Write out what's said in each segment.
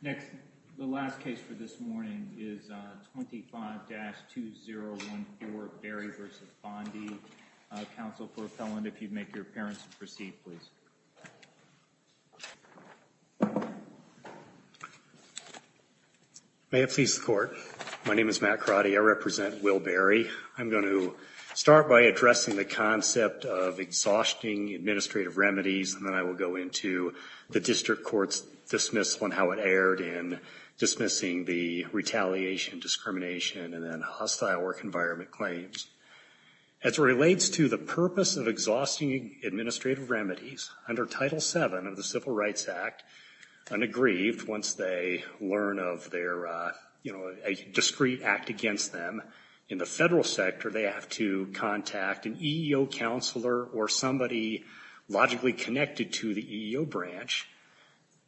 Next, the last case for this morning is 25-2014 Barry v. Bondi, a counsel for a felon. If you'd make your appearance and proceed, please. May it please the Court. My name is Matt Crotty. I represent Will Barry. I'm going to start by addressing the concept of exhausting administrative remedies, and then I will go into the district court's dismissal and how it erred in dismissing the retaliation, discrimination, and then hostile work environment claims. As it relates to the purpose of exhausting administrative remedies, under Title VII of the Civil Rights Act, an aggrieved, once they learn of their, you know, a discreet act against them in the federal sector, they have to contact an EEO counselor or somebody logically connected to the EEO branch.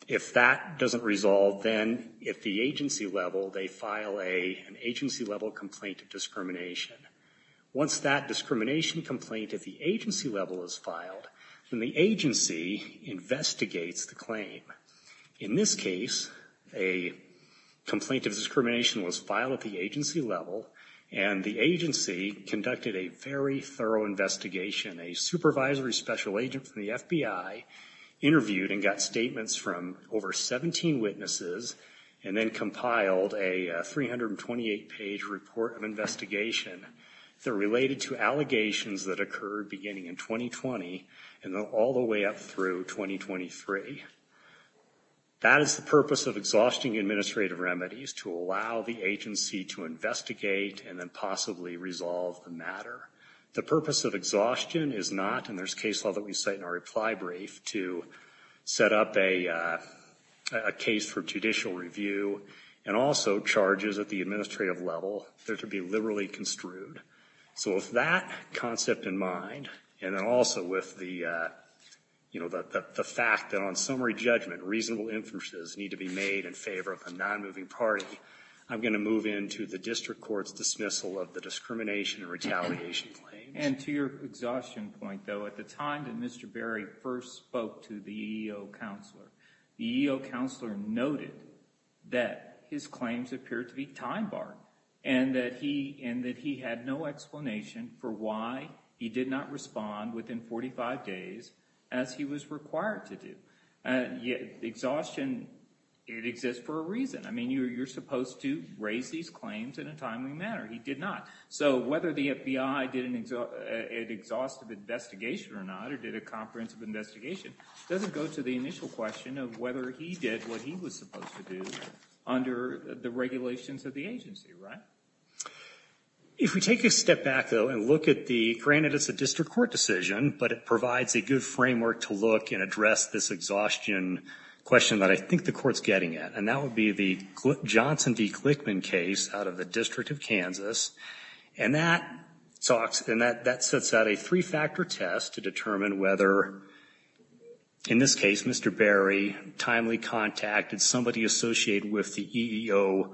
If that doesn't resolve, then at the agency level, they file an agency-level complaint of discrimination. Once that discrimination complaint at the agency level is filed, then the agency investigates the claim. In this case, a complaint of discrimination was filed at the agency level, and the agency conducted a very thorough investigation. A supervisory special agent from the FBI interviewed and got statements from over 17 witnesses and then compiled a 328-page report of investigation that related to allegations that occurred beginning in 2020 and all the way up through 2023. That is the purpose of exhausting administrative remedies, to allow the agency to investigate and then possibly resolve the matter. The purpose of exhaustion is not, and there's case law that we cite in our reply brief, to set up a case for judicial review and also charges at the administrative level that are to be liberally construed. So with that concept in mind, and also with the, you know, the fact that on summary judgment, reasonable inferences need to be made in favor of a non-moving party, I'm going to move into the district court's dismissal of the discrimination and retaliation claims. And to your exhaustion point, though, at the time that Mr. Berry first spoke to the EEO counselor, the EEO counselor noted that his claims appeared to be time barred and that he had no explanation for why he did not respond within 45 days as he was required to do. Exhaustion, it exists for a reason. I mean, you're supposed to raise these claims in a timely manner. He did not. So whether the FBI did an exhaustive investigation or not, or did a comprehensive investigation, doesn't go to the initial question of whether he did what he was supposed to do under the regulations of the agency, right? If we take a step back, though, and look at the, granted it's a district court decision, but it provides a good framework to look and address this exhaustion question that I think the court's getting at, and that would be the Johnson v. Clickman case out of the District of Kansas. And that sets out a three-factor test to determine whether, in this case, Mr. Berry timely contacted somebody associated with the EEO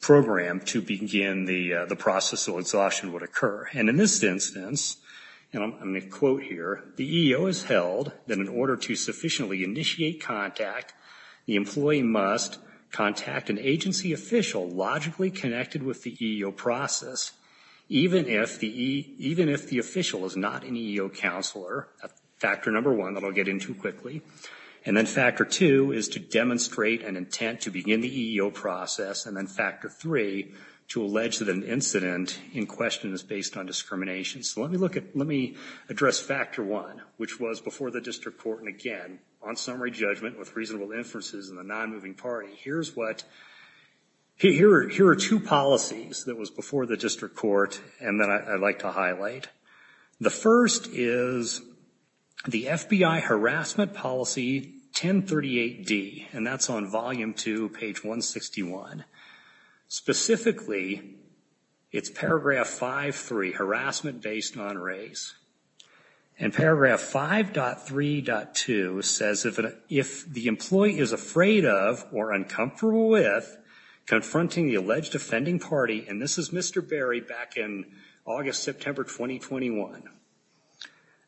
program to begin the process of exhaustion would occur. And in this instance, and I'm going to quote here, the EEO is held that in order to sufficiently initiate contact, the employee must contact an agency official logically connected with the EEO process, even if the official is not an EEO counselor. That's factor number one that I'll get into quickly. And then factor two is to demonstrate an intent to begin the EEO process. And then factor three, to allege that an incident in question is based on discrimination. So let me look at, let me address factor one, which was before the district court, and again, on summary judgment with reasonable inferences in the non-moving party, here's what, here are two policies that was before the district court and that I'd like to highlight. The first is the FBI harassment policy 1038D, and that's on volume two, page 161. Specifically, it's paragraph 5.3, harassment based on race. And paragraph 5.3.2 says, if the employee is afraid of or uncomfortable with confronting the alleged offending party, and this is Mr. Berry back in August, September 2012,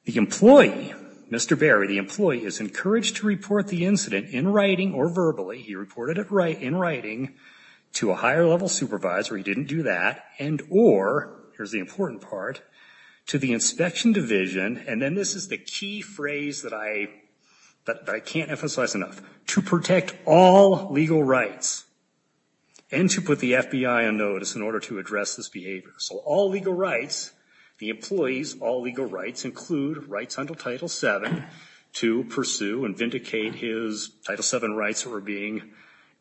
the employee, Mr. Berry, the employee is encouraged to report the incident in writing or verbally, he reported it in writing to a higher level supervisor, he didn't do that, and or, here's the important part, to the inspection division, and then this is the key phrase that I can't emphasize enough, to protect all legal rights, and to put the FBI on notice in order to address this behavior. So all legal rights, the employee's all legal rights include rights under Title VII to pursue and vindicate his Title VII rights that were being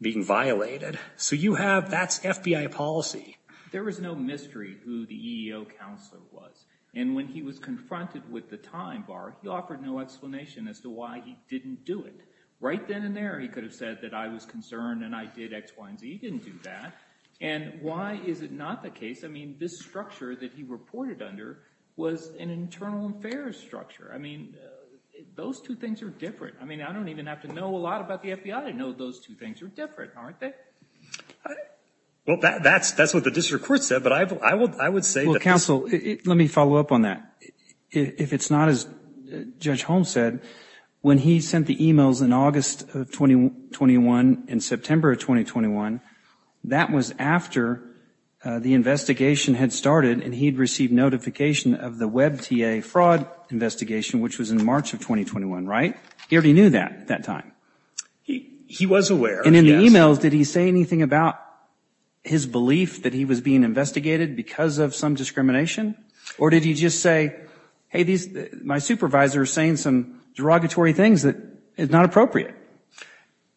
violated. So you have, that's FBI policy. There was no mystery who the EEO counselor was, and when he was confronted with the time bar, he offered no explanation as to why he didn't do it. Right then and there, he could have said that I was concerned and I did X, Y, and Z, he didn't do that. And why is it not the case? I mean, this structure that he reported under was an internal affairs structure. I mean, those two things are different. I mean, I don't even have to know a lot about the FBI to know those two things are different, aren't they? Well, that's what the district court said, but I would say that... Well, counsel, let me follow up on that. If it's not as Judge Holmes said, when he sent the emails in August of 2021 and September of 2021, that was after the investigation had started and he'd received notification of the WebTA fraud investigation, which was in March of 2021, right? He already knew that at that time. He was aware. And in the emails, did he say anything about his belief that he was being investigated because of some discrimination? Or did he just say, hey, my supervisor is saying some derogatory things that is not appropriate?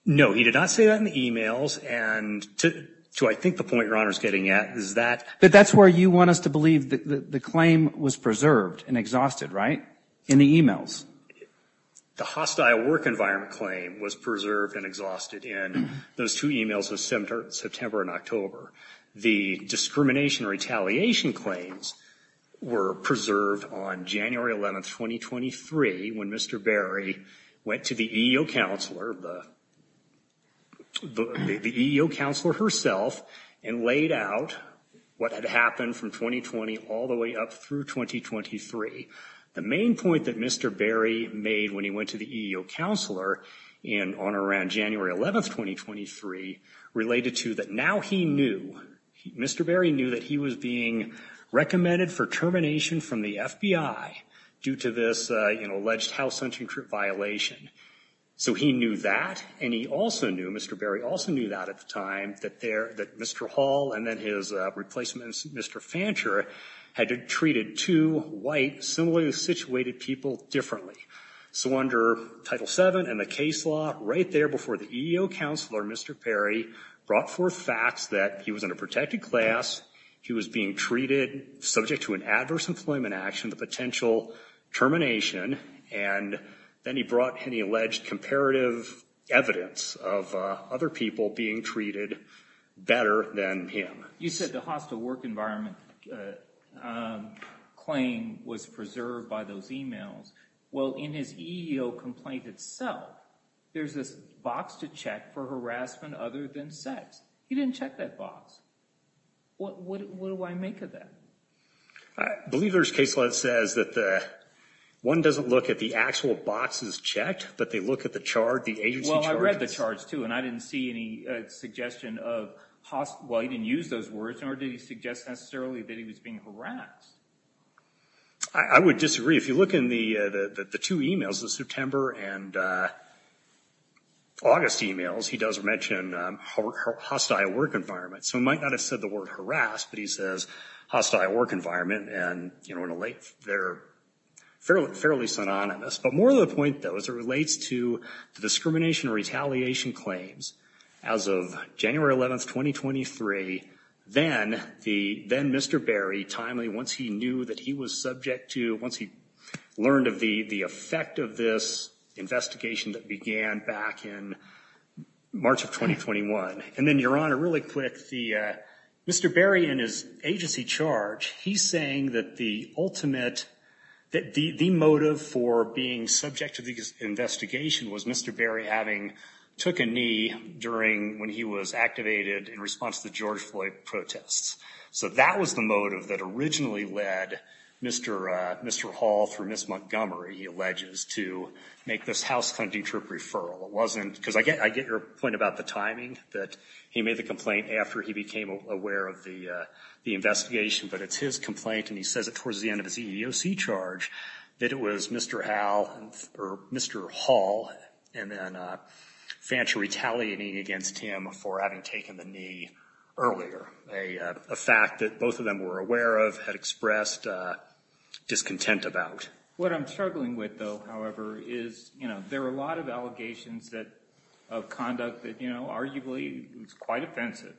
No, he did not say that in the emails. And to I think the point your Honor is getting at is that... But that's where you want us to believe that the claim was preserved and exhausted, right? In the emails. The hostile work environment claim was preserved and exhausted in those two emails of September and October. The discrimination retaliation claims were preserved on January 11th, 2023, when Mr. Berry went to the EEO counselor, the EEO counselor herself, and laid out what had happened from 2020 all the way up through 2023. The main point that Mr. Berry made when he went to the EEO counselor on or around January 11th, 2023, related to that now he knew, Mr. Berry knew that he was being recommended for termination from the FBI due to this alleged house entry violation. So he knew that, and he also knew, Mr. Berry also knew that at the time, that Mr. Hall and then his replacements, Mr. Fancher, had treated two white, similarly situated people differently. So under Title VII and the case law, right there before the EEO counselor, Mr. Berry brought forth facts that he was in a protected class, he was being treated subject to an adverse employment action, the potential termination, and then he brought any alleged comparative evidence of other people being treated better than him. You said the hostile work environment claim was preserved by those emails. Well, in his EEO complaint itself, there's this box to check for harassment other than sex. He didn't check that box. What do I make of that? I believe there's case law that says that one doesn't look at the actual boxes checked, but they look at the charge, the agency charges. And I didn't see any suggestion of, well, he didn't use those words, nor did he suggest necessarily that he was being harassed. I would disagree. If you look in the two emails, the September and August emails, he does mention hostile work environment. So he might not have said the word harass, but he says hostile work environment, and they're fairly synonymous. But more to the point, though, as it relates to the discrimination or retaliation claims, as of January 11th, 2023, then Mr. Berry timely, once he knew that he was subject to, once he learned of the effect of this investigation that began back in March of 2021, and then, Your Honor, really quick, Mr. Berry and his agency charge, he's saying that the ultimate, that the motive for being subject to this investigation was Mr. Berry having took a knee during, when he was activated in response to the George Floyd protests. So that was the motive that originally led Mr. Hall through Ms. Montgomery, he alleges, to make this house hunting trip referral. It wasn't, because I get your point about the timing, that he made the complaint after he became aware of the investigation. But it's his complaint, and he says it towards the end of his EEOC charge, that it was Mr. Hall and then Fancher retaliating against him for having taken the knee earlier. A fact that both of them were aware of, had expressed discontent about. What I'm struggling with, though, however, is, you know, there are a lot of allegations that, of conduct that, you know, arguably, it's quite offensive.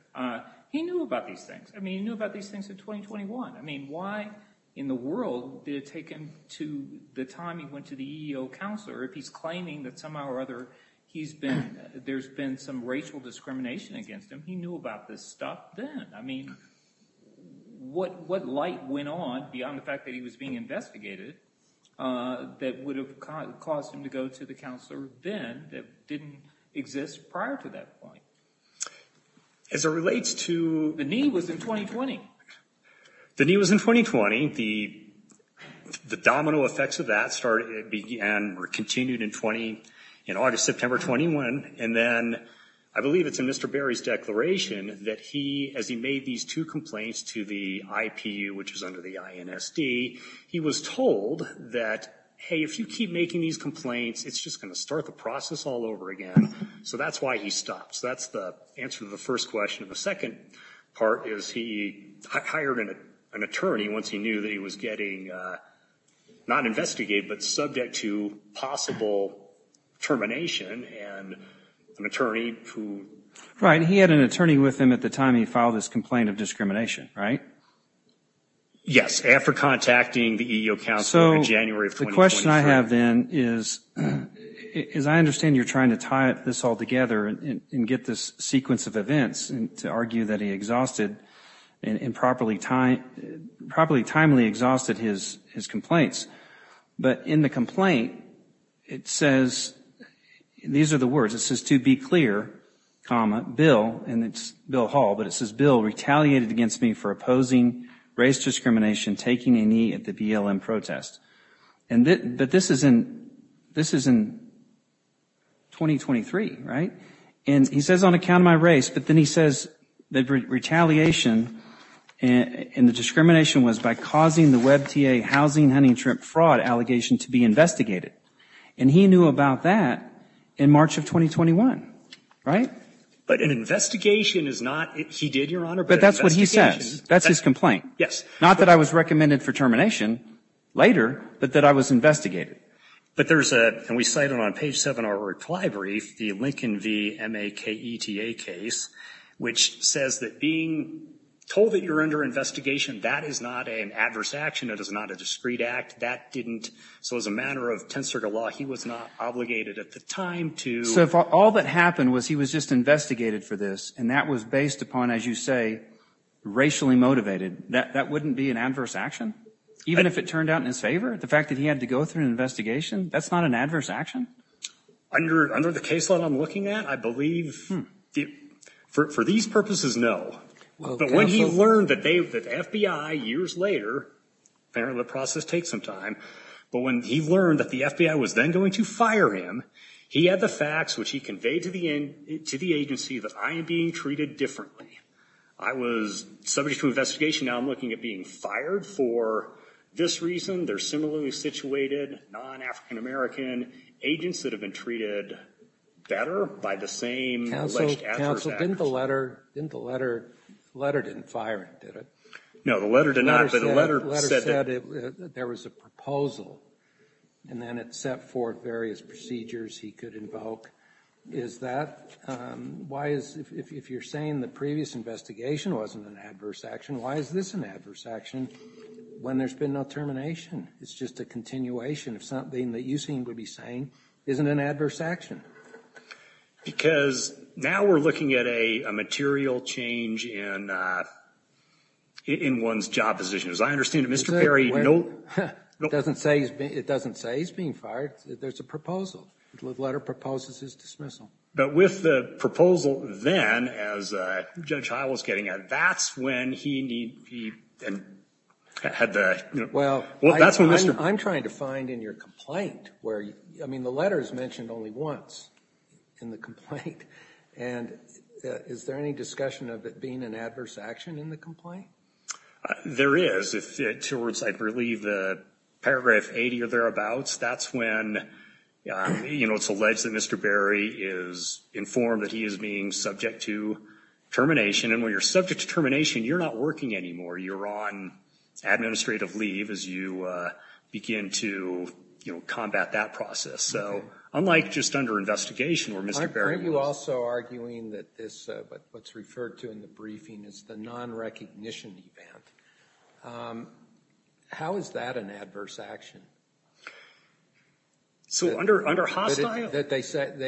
He knew about these things. I mean, he knew about these things in 2021. I mean, why in the world did it take him to the time he went to the EEO counselor if he's claiming that somehow or other, he's been, there's been some racial discrimination against him. He knew about this stuff then. I mean, what light went on beyond the fact that he was being investigated that would have caused him to go to the counselor then that didn't exist prior to that point? As it relates to, the knee was in 2020. The knee was in 2020. The domino effects of that started, began or continued in 20, in August, September 21. And then I believe it's in Mr. Berry's declaration that he, as he made these two complaints to the IPU, which is under the INSD, he was told that, hey, if you keep making these complaints, it's just going to start the process all over again. So that's why he stopped. So that's the answer to the first question. The second part is he hired an attorney once he knew that he was getting, not investigated, but subject to possible termination and an attorney who. Right. He had an attorney with him at the time he filed this complaint of discrimination, right? Yes, after contacting the EEO counselor in January of 2023. The question I have then is, is I understand you're trying to tie this all together and get this sequence of events and to argue that he exhausted and properly timely exhausted his complaints. But in the complaint, it says, these are the words, it says to be clear, comma, Bill and it's Bill Hall, but it says Bill retaliated against me for opposing race discrimination, taking a knee at the BLM protest. But this is in, this is in 2023, right? And he says on account of my race, but then he says that retaliation and the discrimination was by causing the WebTA housing hunting and shrimp fraud allegation to be investigated. And he knew about that in March of 2021, right? But an investigation is not, he did, Your Honor. But that's what he says. That's his complaint. Yes. Not that I was recommended for termination later, but that I was investigated. But there's a, and we cited on page seven of our reply brief, the Lincoln v. MAKETA case, which says that being told that you're under investigation, that is not an adverse action. It is not a discreet act. That didn't, so as a matter of tensor to law, he was not obligated at the time to. So if all that happened was he was just investigated for this, and that was based upon, as you say, racially motivated, that wouldn't be an adverse action? Even if it turned out in his favor, the fact that he had to go through an investigation, that's not an adverse action? Under the caseload I'm looking at, I believe, for these purposes, no. But when he learned that they, the FBI, years later, apparently the process takes some time, but when he learned that the FBI was then going to fire him, he had the facts which he conveyed to the agency that I am being treated differently. I was subject to investigation. Now I'm looking at being fired for this reason. They're similarly situated, non-African American agents that have been treated better by the same alleged adverse action. Counsel, didn't the letter, didn't the letter, the letter didn't fire him, did it? No, the letter did not. The letter said there was a proposal, and then it set forth various procedures he could invoke. Is that, why is, if you're saying the previous investigation wasn't an adverse action, why is this an adverse action when there's been no termination? It's just a continuation of something that you seem to be saying isn't an adverse action. Because now we're looking at a material change in one's job position. As I understand it, Mr. Perry, no. It doesn't say he's being fired. There's a proposal. The letter proposes his dismissal. But with the proposal then, as Judge Hywell was getting at, that's when he had the, you know. Well, I'm trying to find in your complaint where, I mean, the letter is mentioned only once in the complaint. And is there any discussion of it being an adverse action in the complaint? There is. Towards, I believe, Paragraph 80 or thereabouts, that's when, you know, it's alleged that Mr. Berry is informed that he is being subject to termination. And when you're subject to termination, you're not working anymore. You're on administrative leave as you begin to, you know, combat that process. So unlike just under investigation where Mr. Berry was. You're also arguing that what's referred to in the briefing is the non-recognition event. How is that an adverse action? So under hostile? They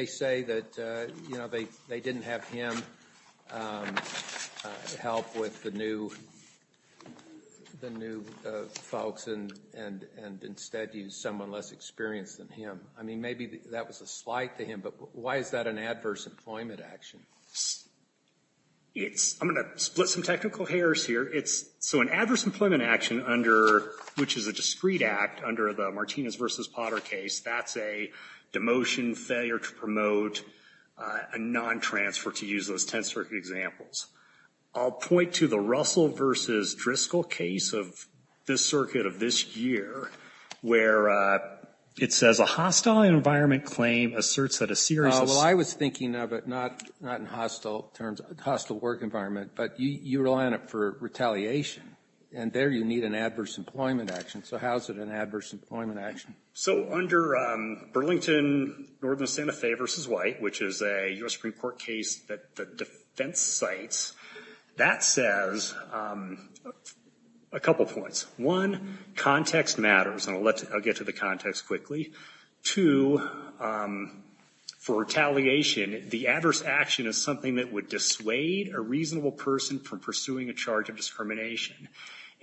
say that, you know, they didn't have him help with the new folks and instead use someone less experienced than him. I mean, maybe that was a slight to him. But why is that an adverse employment action? It's, I'm going to split some technical hairs here. So an adverse employment action under, which is a discreet act under the Martinez v. Potter case, that's a demotion, failure to promote, a non-transfer to use those 10th Circuit examples. I'll point to the Russell v. Driscoll case of this circuit of this year, where it says a hostile environment claim asserts that a serious. Well, I was thinking of it not in hostile terms, hostile work environment, but you rely on it for retaliation. And there you need an adverse employment action. So how is it an adverse employment action? So under Burlington, Northern Santa Fe v. White, which is a U.S. Supreme Court case that the defense cites, that says a couple points. One, context matters, and I'll get to the context quickly. Two, for retaliation, the adverse action is something that would dissuade a reasonable person from pursuing a charge of discrimination.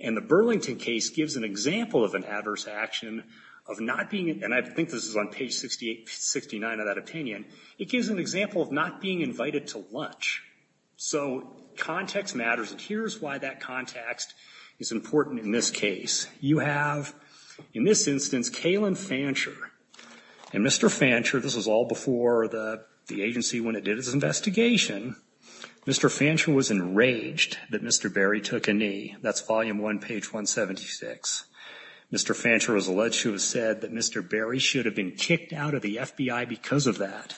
And the Burlington case gives an example of an adverse action of not being, and I think this is on page 68, 69 of that opinion, it gives an example of not being invited to lunch. So context matters, and here's why that context is important in this case. You have, in this instance, Kalen Fancher. And Mr. Fancher, this was all before the agency when it did its investigation, Mr. Fancher was enraged that Mr. Berry took a knee. That's volume one, page 176. Mr. Fancher was alleged to have said that Mr. Berry should have been kicked out of the FBI because of that.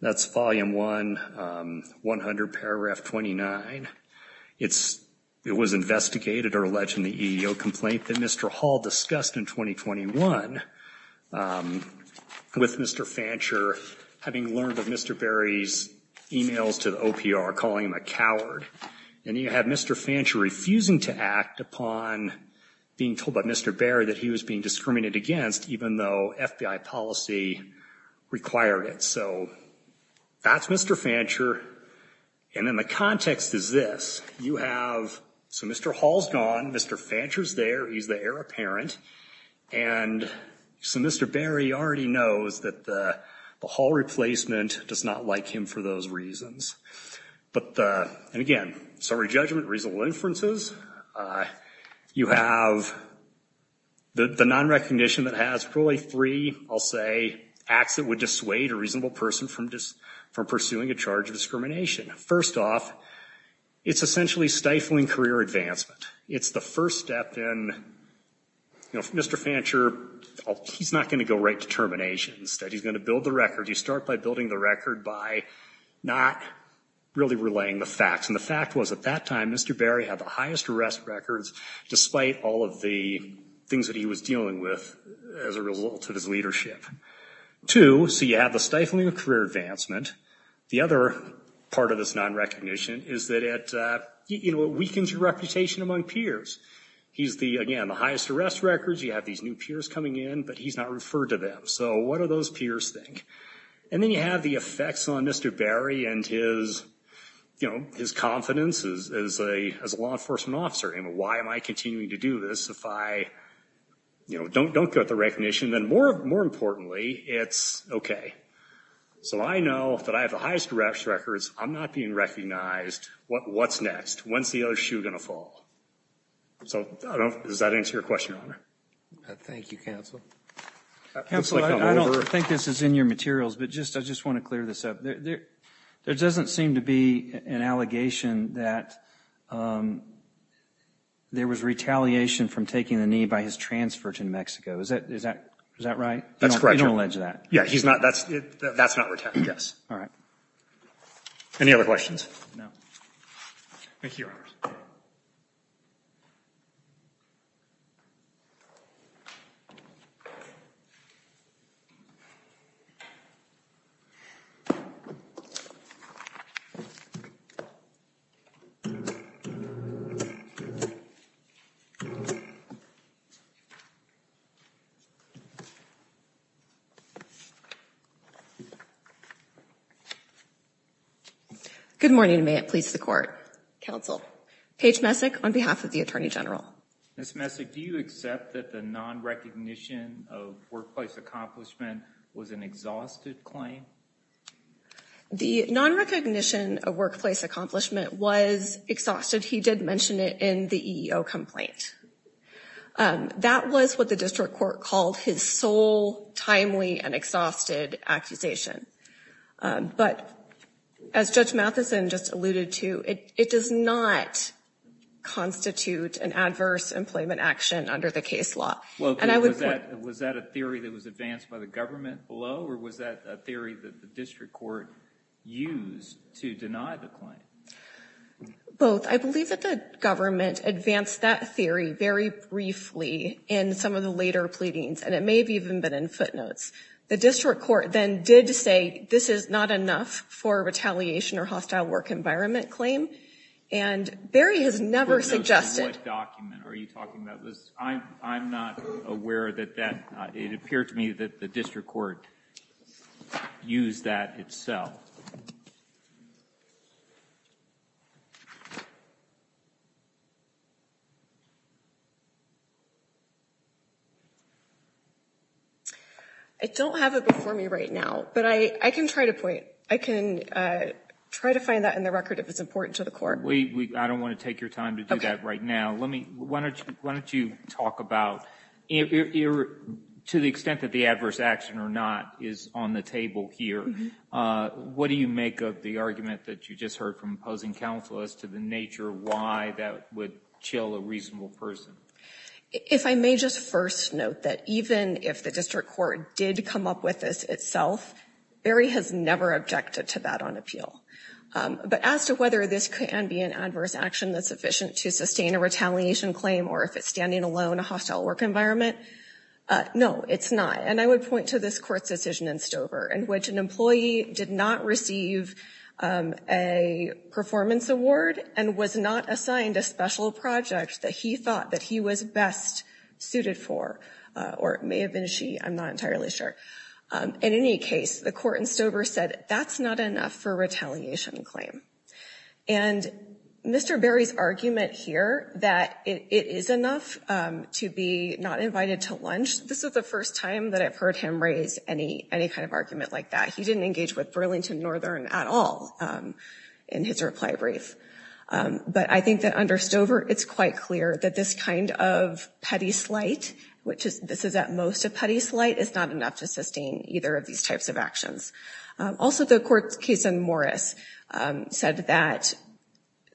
That's volume one, 100 paragraph 29. It was investigated or alleged in the EEO complaint that Mr. Hall discussed in 2021 with Mr. Fancher, having learned of Mr. Berry's emails to the OPR calling him a coward. And you had Mr. Fancher refusing to act upon being told by Mr. Berry that he was being discriminated against, even though FBI policy required it. So that's Mr. Fancher, and then the context is this. You have, so Mr. Hall's gone, Mr. Fancher's there, he's the heir apparent, and so Mr. Berry already knows that the Hall replacement does not like him for those reasons. But again, summary judgment, reasonable inferences. You have the non-recognition that has probably three, I'll say, acts that would dissuade a reasonable person from pursuing a charge of discrimination. First off, it's essentially stifling career advancement. It's the first step in, you know, Mr. Fancher, he's not going to go right to termination. Instead, he's going to build the record. You start by building the record by not really relaying the facts. And the fact was, at that time, Mr. Berry had the highest arrest records, despite all of the things that he was dealing with as a result of his leadership. Two, so you have the stifling of career advancement. The other part of this non-recognition is that it, you know, it weakens your reputation among peers. He's the, again, the highest arrest records. You have these new peers coming in, but he's not referred to them. So what do those peers think? And then you have the effects on Mr. Berry and his, you know, his confidence as a law enforcement officer. You know, why am I continuing to do this if I, you know, don't get the recognition? Then more importantly, it's okay. So I know that I have the highest arrest records. I'm not being recognized. What's next? When's the other shoe going to fall? So does that answer your question, Your Honor? Thank you, Counsel. Counsel, I don't think this is in your materials, but I just want to clear this up. There doesn't seem to be an allegation that there was retaliation from taking the knee by his transfer to New Mexico. Is that right? That's correct, Your Honor. You don't allege that? Yeah, he's not, that's not retaliation, yes. All right. Any other questions? No. Thank you, Your Honor. Good morning, and may it please the Court. Counsel. Paige Messick on behalf of the Attorney General. Ms. Messick, do you accept that the non-recognition of workplace accomplishment was an exhausted claim? The non-recognition of workplace accomplishment was exhausted. He did mention it in the EEO complaint. That was what the district court called his sole timely and exhausted accusation. But as Judge Matheson just alluded to, it does not constitute an adverse employment action under the case law. Was that a theory that was advanced by the government below, or was that a theory that the district court used to deny the claim? Both. I believe that the government advanced that theory very briefly in some of the later pleadings, and it may have even been in footnotes. The district court then did say this is not enough for retaliation or hostile work environment claim. And Barry has never suggested – Footnotes in what document? Are you talking about this? I'm not aware that that – it appeared to me that the district court used that itself. I don't have it before me right now, but I can try to point – I can try to find that in the record if it's important to the court. I don't want to take your time to do that right now. Let me – why don't you talk about – to the extent that the adverse action or not is on the table here, what do you make of the argument that you just heard from opposing counsel as to the nature of why that would chill a reasonable person? If I may just first note that even if the district court did come up with this itself, Barry has never objected to that on appeal. But as to whether this can be an adverse action that's sufficient to sustain a retaliation claim or if it's standing alone in a hostile work environment, no, it's not. And I would point to this court's decision in Stover in which an employee did not receive a performance award and was not assigned a special project that he thought that he was best suited for, or it may have been she, I'm not entirely sure. In any case, the court in Stover said that's not enough for a retaliation claim. And Mr. Barry's argument here that it is enough to be not invited to lunch, this is the first time that I've heard him raise any kind of argument like that. He didn't engage with Burlington Northern at all in his reply brief. But I think that under Stover, it's quite clear that this kind of petty slight, which this is at most a petty slight, is not enough to sustain either of these types of actions. Also, the court's case in Morris said that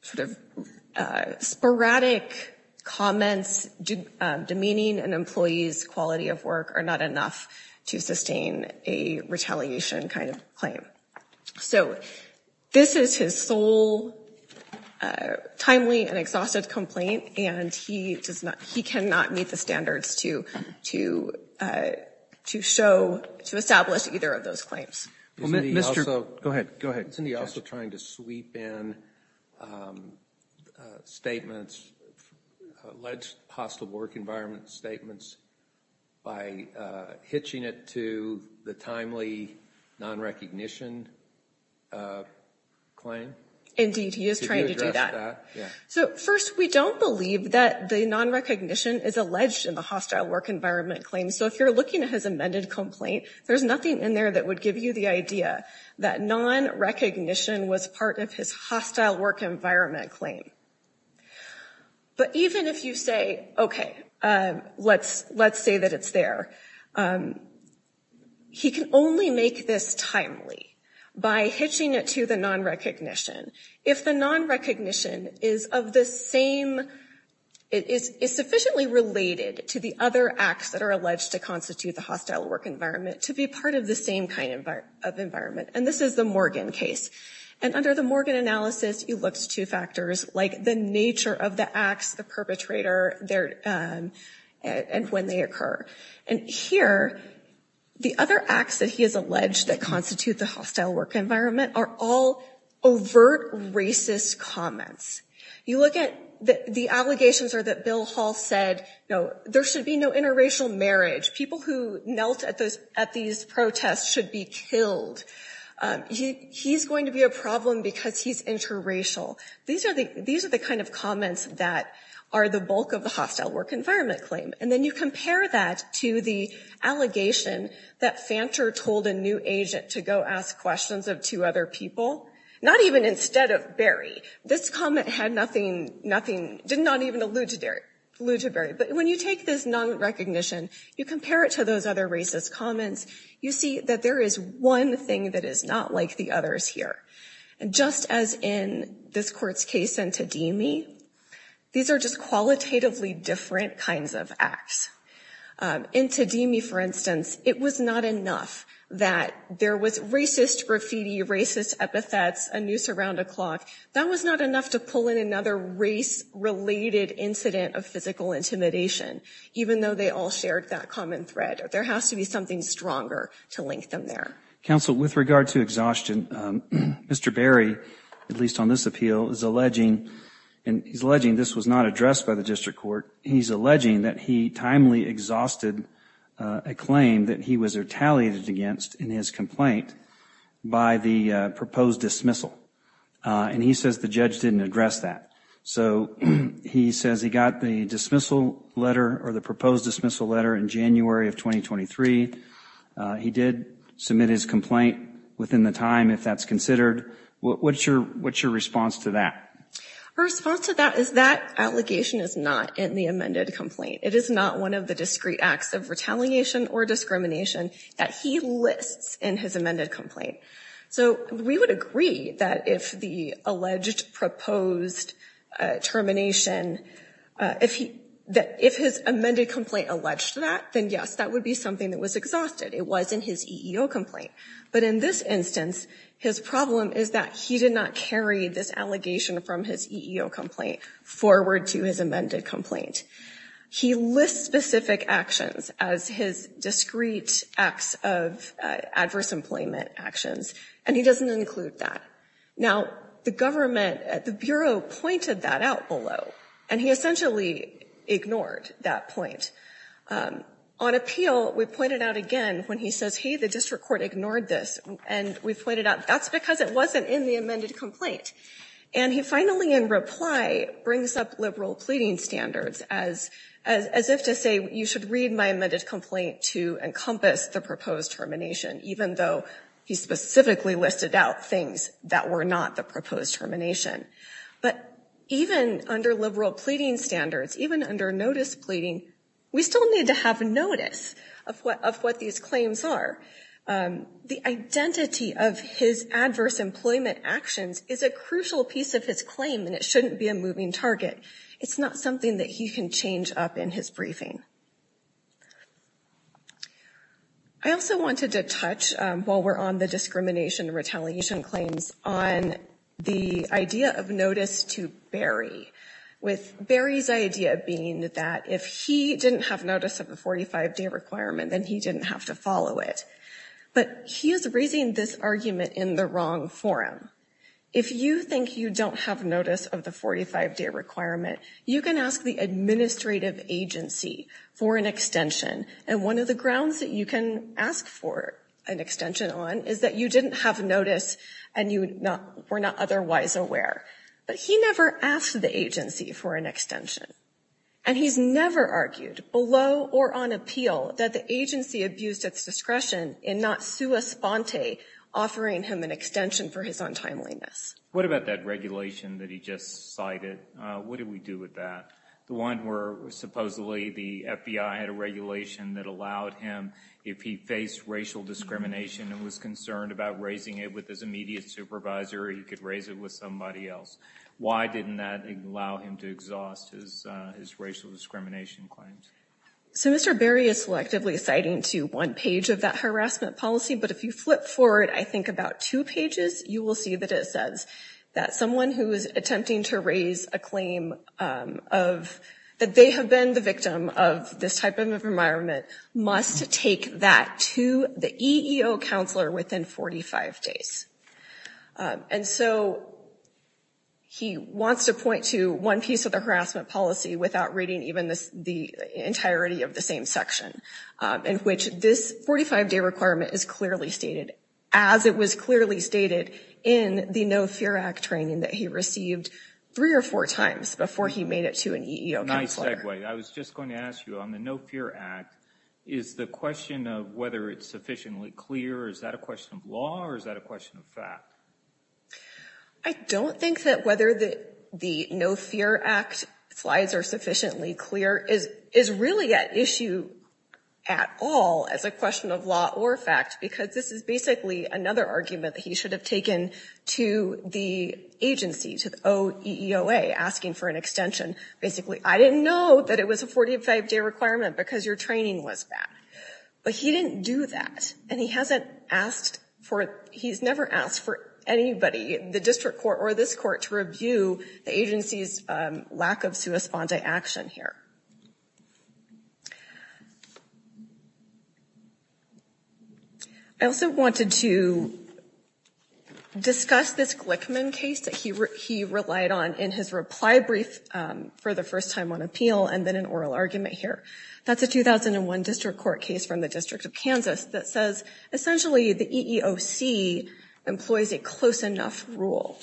sort of sporadic comments demeaning an employee's quality of work are not enough to sustain a retaliation kind of claim. So this is his sole timely and exhaustive complaint, and he cannot meet the standards to show, to establish either of those claims. Isn't he also trying to sweep in statements, alleged hostile work environment statements, by hitching it to the timely non-recognition claim? Indeed, he is trying to do that. So first, we don't believe that the non-recognition is alleged in the hostile work environment claim. So if you're looking at his amended complaint, there's nothing in there that would give you the idea that non-recognition was part of his hostile work environment claim. But even if you say, okay, let's say that it's there, he can only make this timely by hitching it to the non-recognition. If the non-recognition is of the same, is sufficiently related to the other acts that are alleged to constitute the hostile work environment, to be part of the same kind of environment. And this is the Morgan case. And under the Morgan analysis, he looks to factors like the nature of the acts, the perpetrator, and when they occur. And here, the other acts that he has alleged that constitute the hostile work environment are all overt racist comments. You look at the allegations are that Bill Hall said, no, there should be no interracial marriage. People who knelt at these protests should be killed. He's going to be a problem because he's interracial. These are the kind of comments that are the bulk of the hostile work environment claim. And then you compare that to the allegation that Fanter told a new agent to go ask questions of two other people. Not even instead of Berry. This comment had nothing, did not even allude to Berry. But when you take this non-recognition, you compare it to those other racist comments, you see that there is one thing that is not like the others here. And just as in this court's case in Tadimi, these are just qualitatively different kinds of acts. In Tadimi, for instance, it was not enough that there was racist graffiti, racist epithets, a noose around a clock. That was not enough to pull in another race-related incident of physical intimidation, even though they all shared that common thread. There has to be something stronger to link them there. Counsel, with regard to exhaustion, Mr. Berry, at least on this appeal, is alleging, and he's alleging this was not addressed by the district court, he's alleging that he timely exhausted a claim that he was retaliated against in his complaint by the proposed dismissal. And he says the judge didn't address that. So he says he got the dismissal letter or the proposed dismissal letter in January of 2023. He did submit his complaint within the time, if that's considered. What's your response to that? Our response to that is that allegation is not in the amended complaint. It is not one of the discrete acts of retaliation or discrimination that he lists in his amended complaint. So we would agree that if the alleged proposed termination, if his amended complaint alleged that, then yes, that would be something that was exhausted. It was in his EEO complaint. But in this instance, his problem is that he did not carry this allegation from his EEO complaint forward to his amended complaint. He lists specific actions as his discrete acts of adverse employment actions, and he doesn't include that. Now, the government, the Bureau pointed that out below, and he essentially ignored that point. On appeal, we pointed out again when he says, hey, the district court ignored this, and we pointed out that's because it wasn't in the amended complaint. And he finally, in reply, brings up liberal pleading standards as if to say you should read my amended complaint to encompass the proposed termination, even though he specifically listed out things that were not the proposed termination. But even under liberal pleading standards, even under notice pleading, we still need to have notice of what these claims are. The identity of his adverse employment actions is a crucial piece of his claim, and it shouldn't be a moving target. It's not something that he can change up in his briefing. I also wanted to touch, while we're on the discrimination and retaliation claims, on the idea of notice to Barry, with Barry's idea being that if he didn't have notice of the 45-day requirement, then he didn't have to follow it. But he is raising this argument in the wrong forum. If you think you don't have notice of the 45-day requirement, you can ask the administrative agency for an extension, and one of the grounds that you can ask for an extension on is that you didn't have notice and you were not otherwise aware. But he never asked the agency for an extension, and he's never argued below or on appeal that the agency abused its discretion in not sua sponte, offering him an extension for his untimeliness. What about that regulation that he just cited? What did we do with that? The one where supposedly the FBI had a regulation that allowed him, if he faced racial discrimination and was concerned about raising it with his immediate supervisor, he could raise it with somebody else. Why didn't that allow him to exhaust his racial discrimination claims? So Mr. Barry is selectively citing to one page of that harassment policy, but if you flip forward, I think, about two pages, you will see that it says that someone who is attempting to raise a claim that they have been the victim of this type of environment must take that to the EEO counselor within 45 days. And so he wants to point to one piece of the harassment policy without reading even the entirety of the same section, in which this 45-day requirement is clearly stated, as it was clearly stated in the No Fear Act training that he received three or four times before he made it to an EEO counselor. Nice segue. I was just going to ask you, on the No Fear Act, is the question of whether it's sufficiently clear, is that a question of law or is that a question of fact? I don't think that whether the No Fear Act slides are sufficiently clear is really at issue at all as a question of law or fact, because this is basically another argument that he should have taken to the agency, to the OEOA, asking for an extension. Basically, I didn't know that it was a 45-day requirement because your training was bad. But he didn't do that, and he hasn't asked for it. He's never asked for anybody, the district court or this court, to review the agency's lack of sua sponda action here. I also wanted to discuss this Glickman case that he relied on in his reply brief for the first time on appeal and then an oral argument here. That's a 2001 district court case from the District of Kansas that says essentially the EEOC employs a close enough rule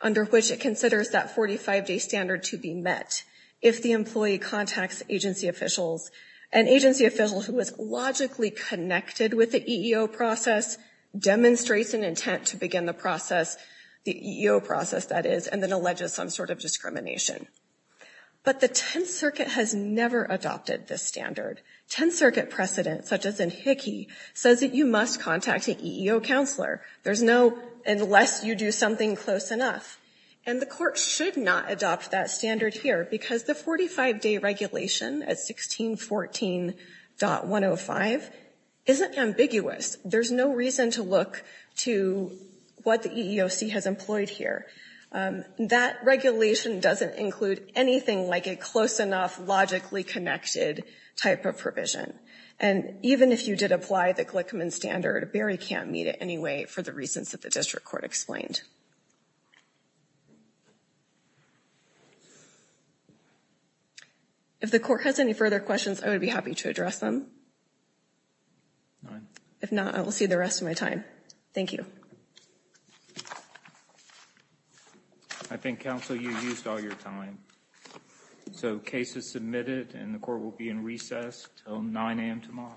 under which it considers that 45-day standard to be met if the employee contacts agency officials. An agency official who is logically connected with the EEO process demonstrates an intent to begin the process, the EEO process that is, and then alleges some sort of discrimination. But the Tenth Circuit has never adopted this standard. Tenth Circuit precedent, such as in Hickey, says that you must contact an EEO counselor unless you do something close enough. And the court should not adopt that standard here because the 45-day regulation at 1614.105 isn't ambiguous. There's no reason to look to what the EEOC has employed here. That regulation doesn't include anything like a close enough, logically connected type of provision. And even if you did apply the Glickman standard, Barry can't meet it anyway for the reasons that the district court explained. If the court has any further questions, I would be happy to address them. If not, I will see the rest of my time. Thank you. I think, counsel, you used all your time. So case is submitted and the court will be in recess until 9 a.m. tomorrow.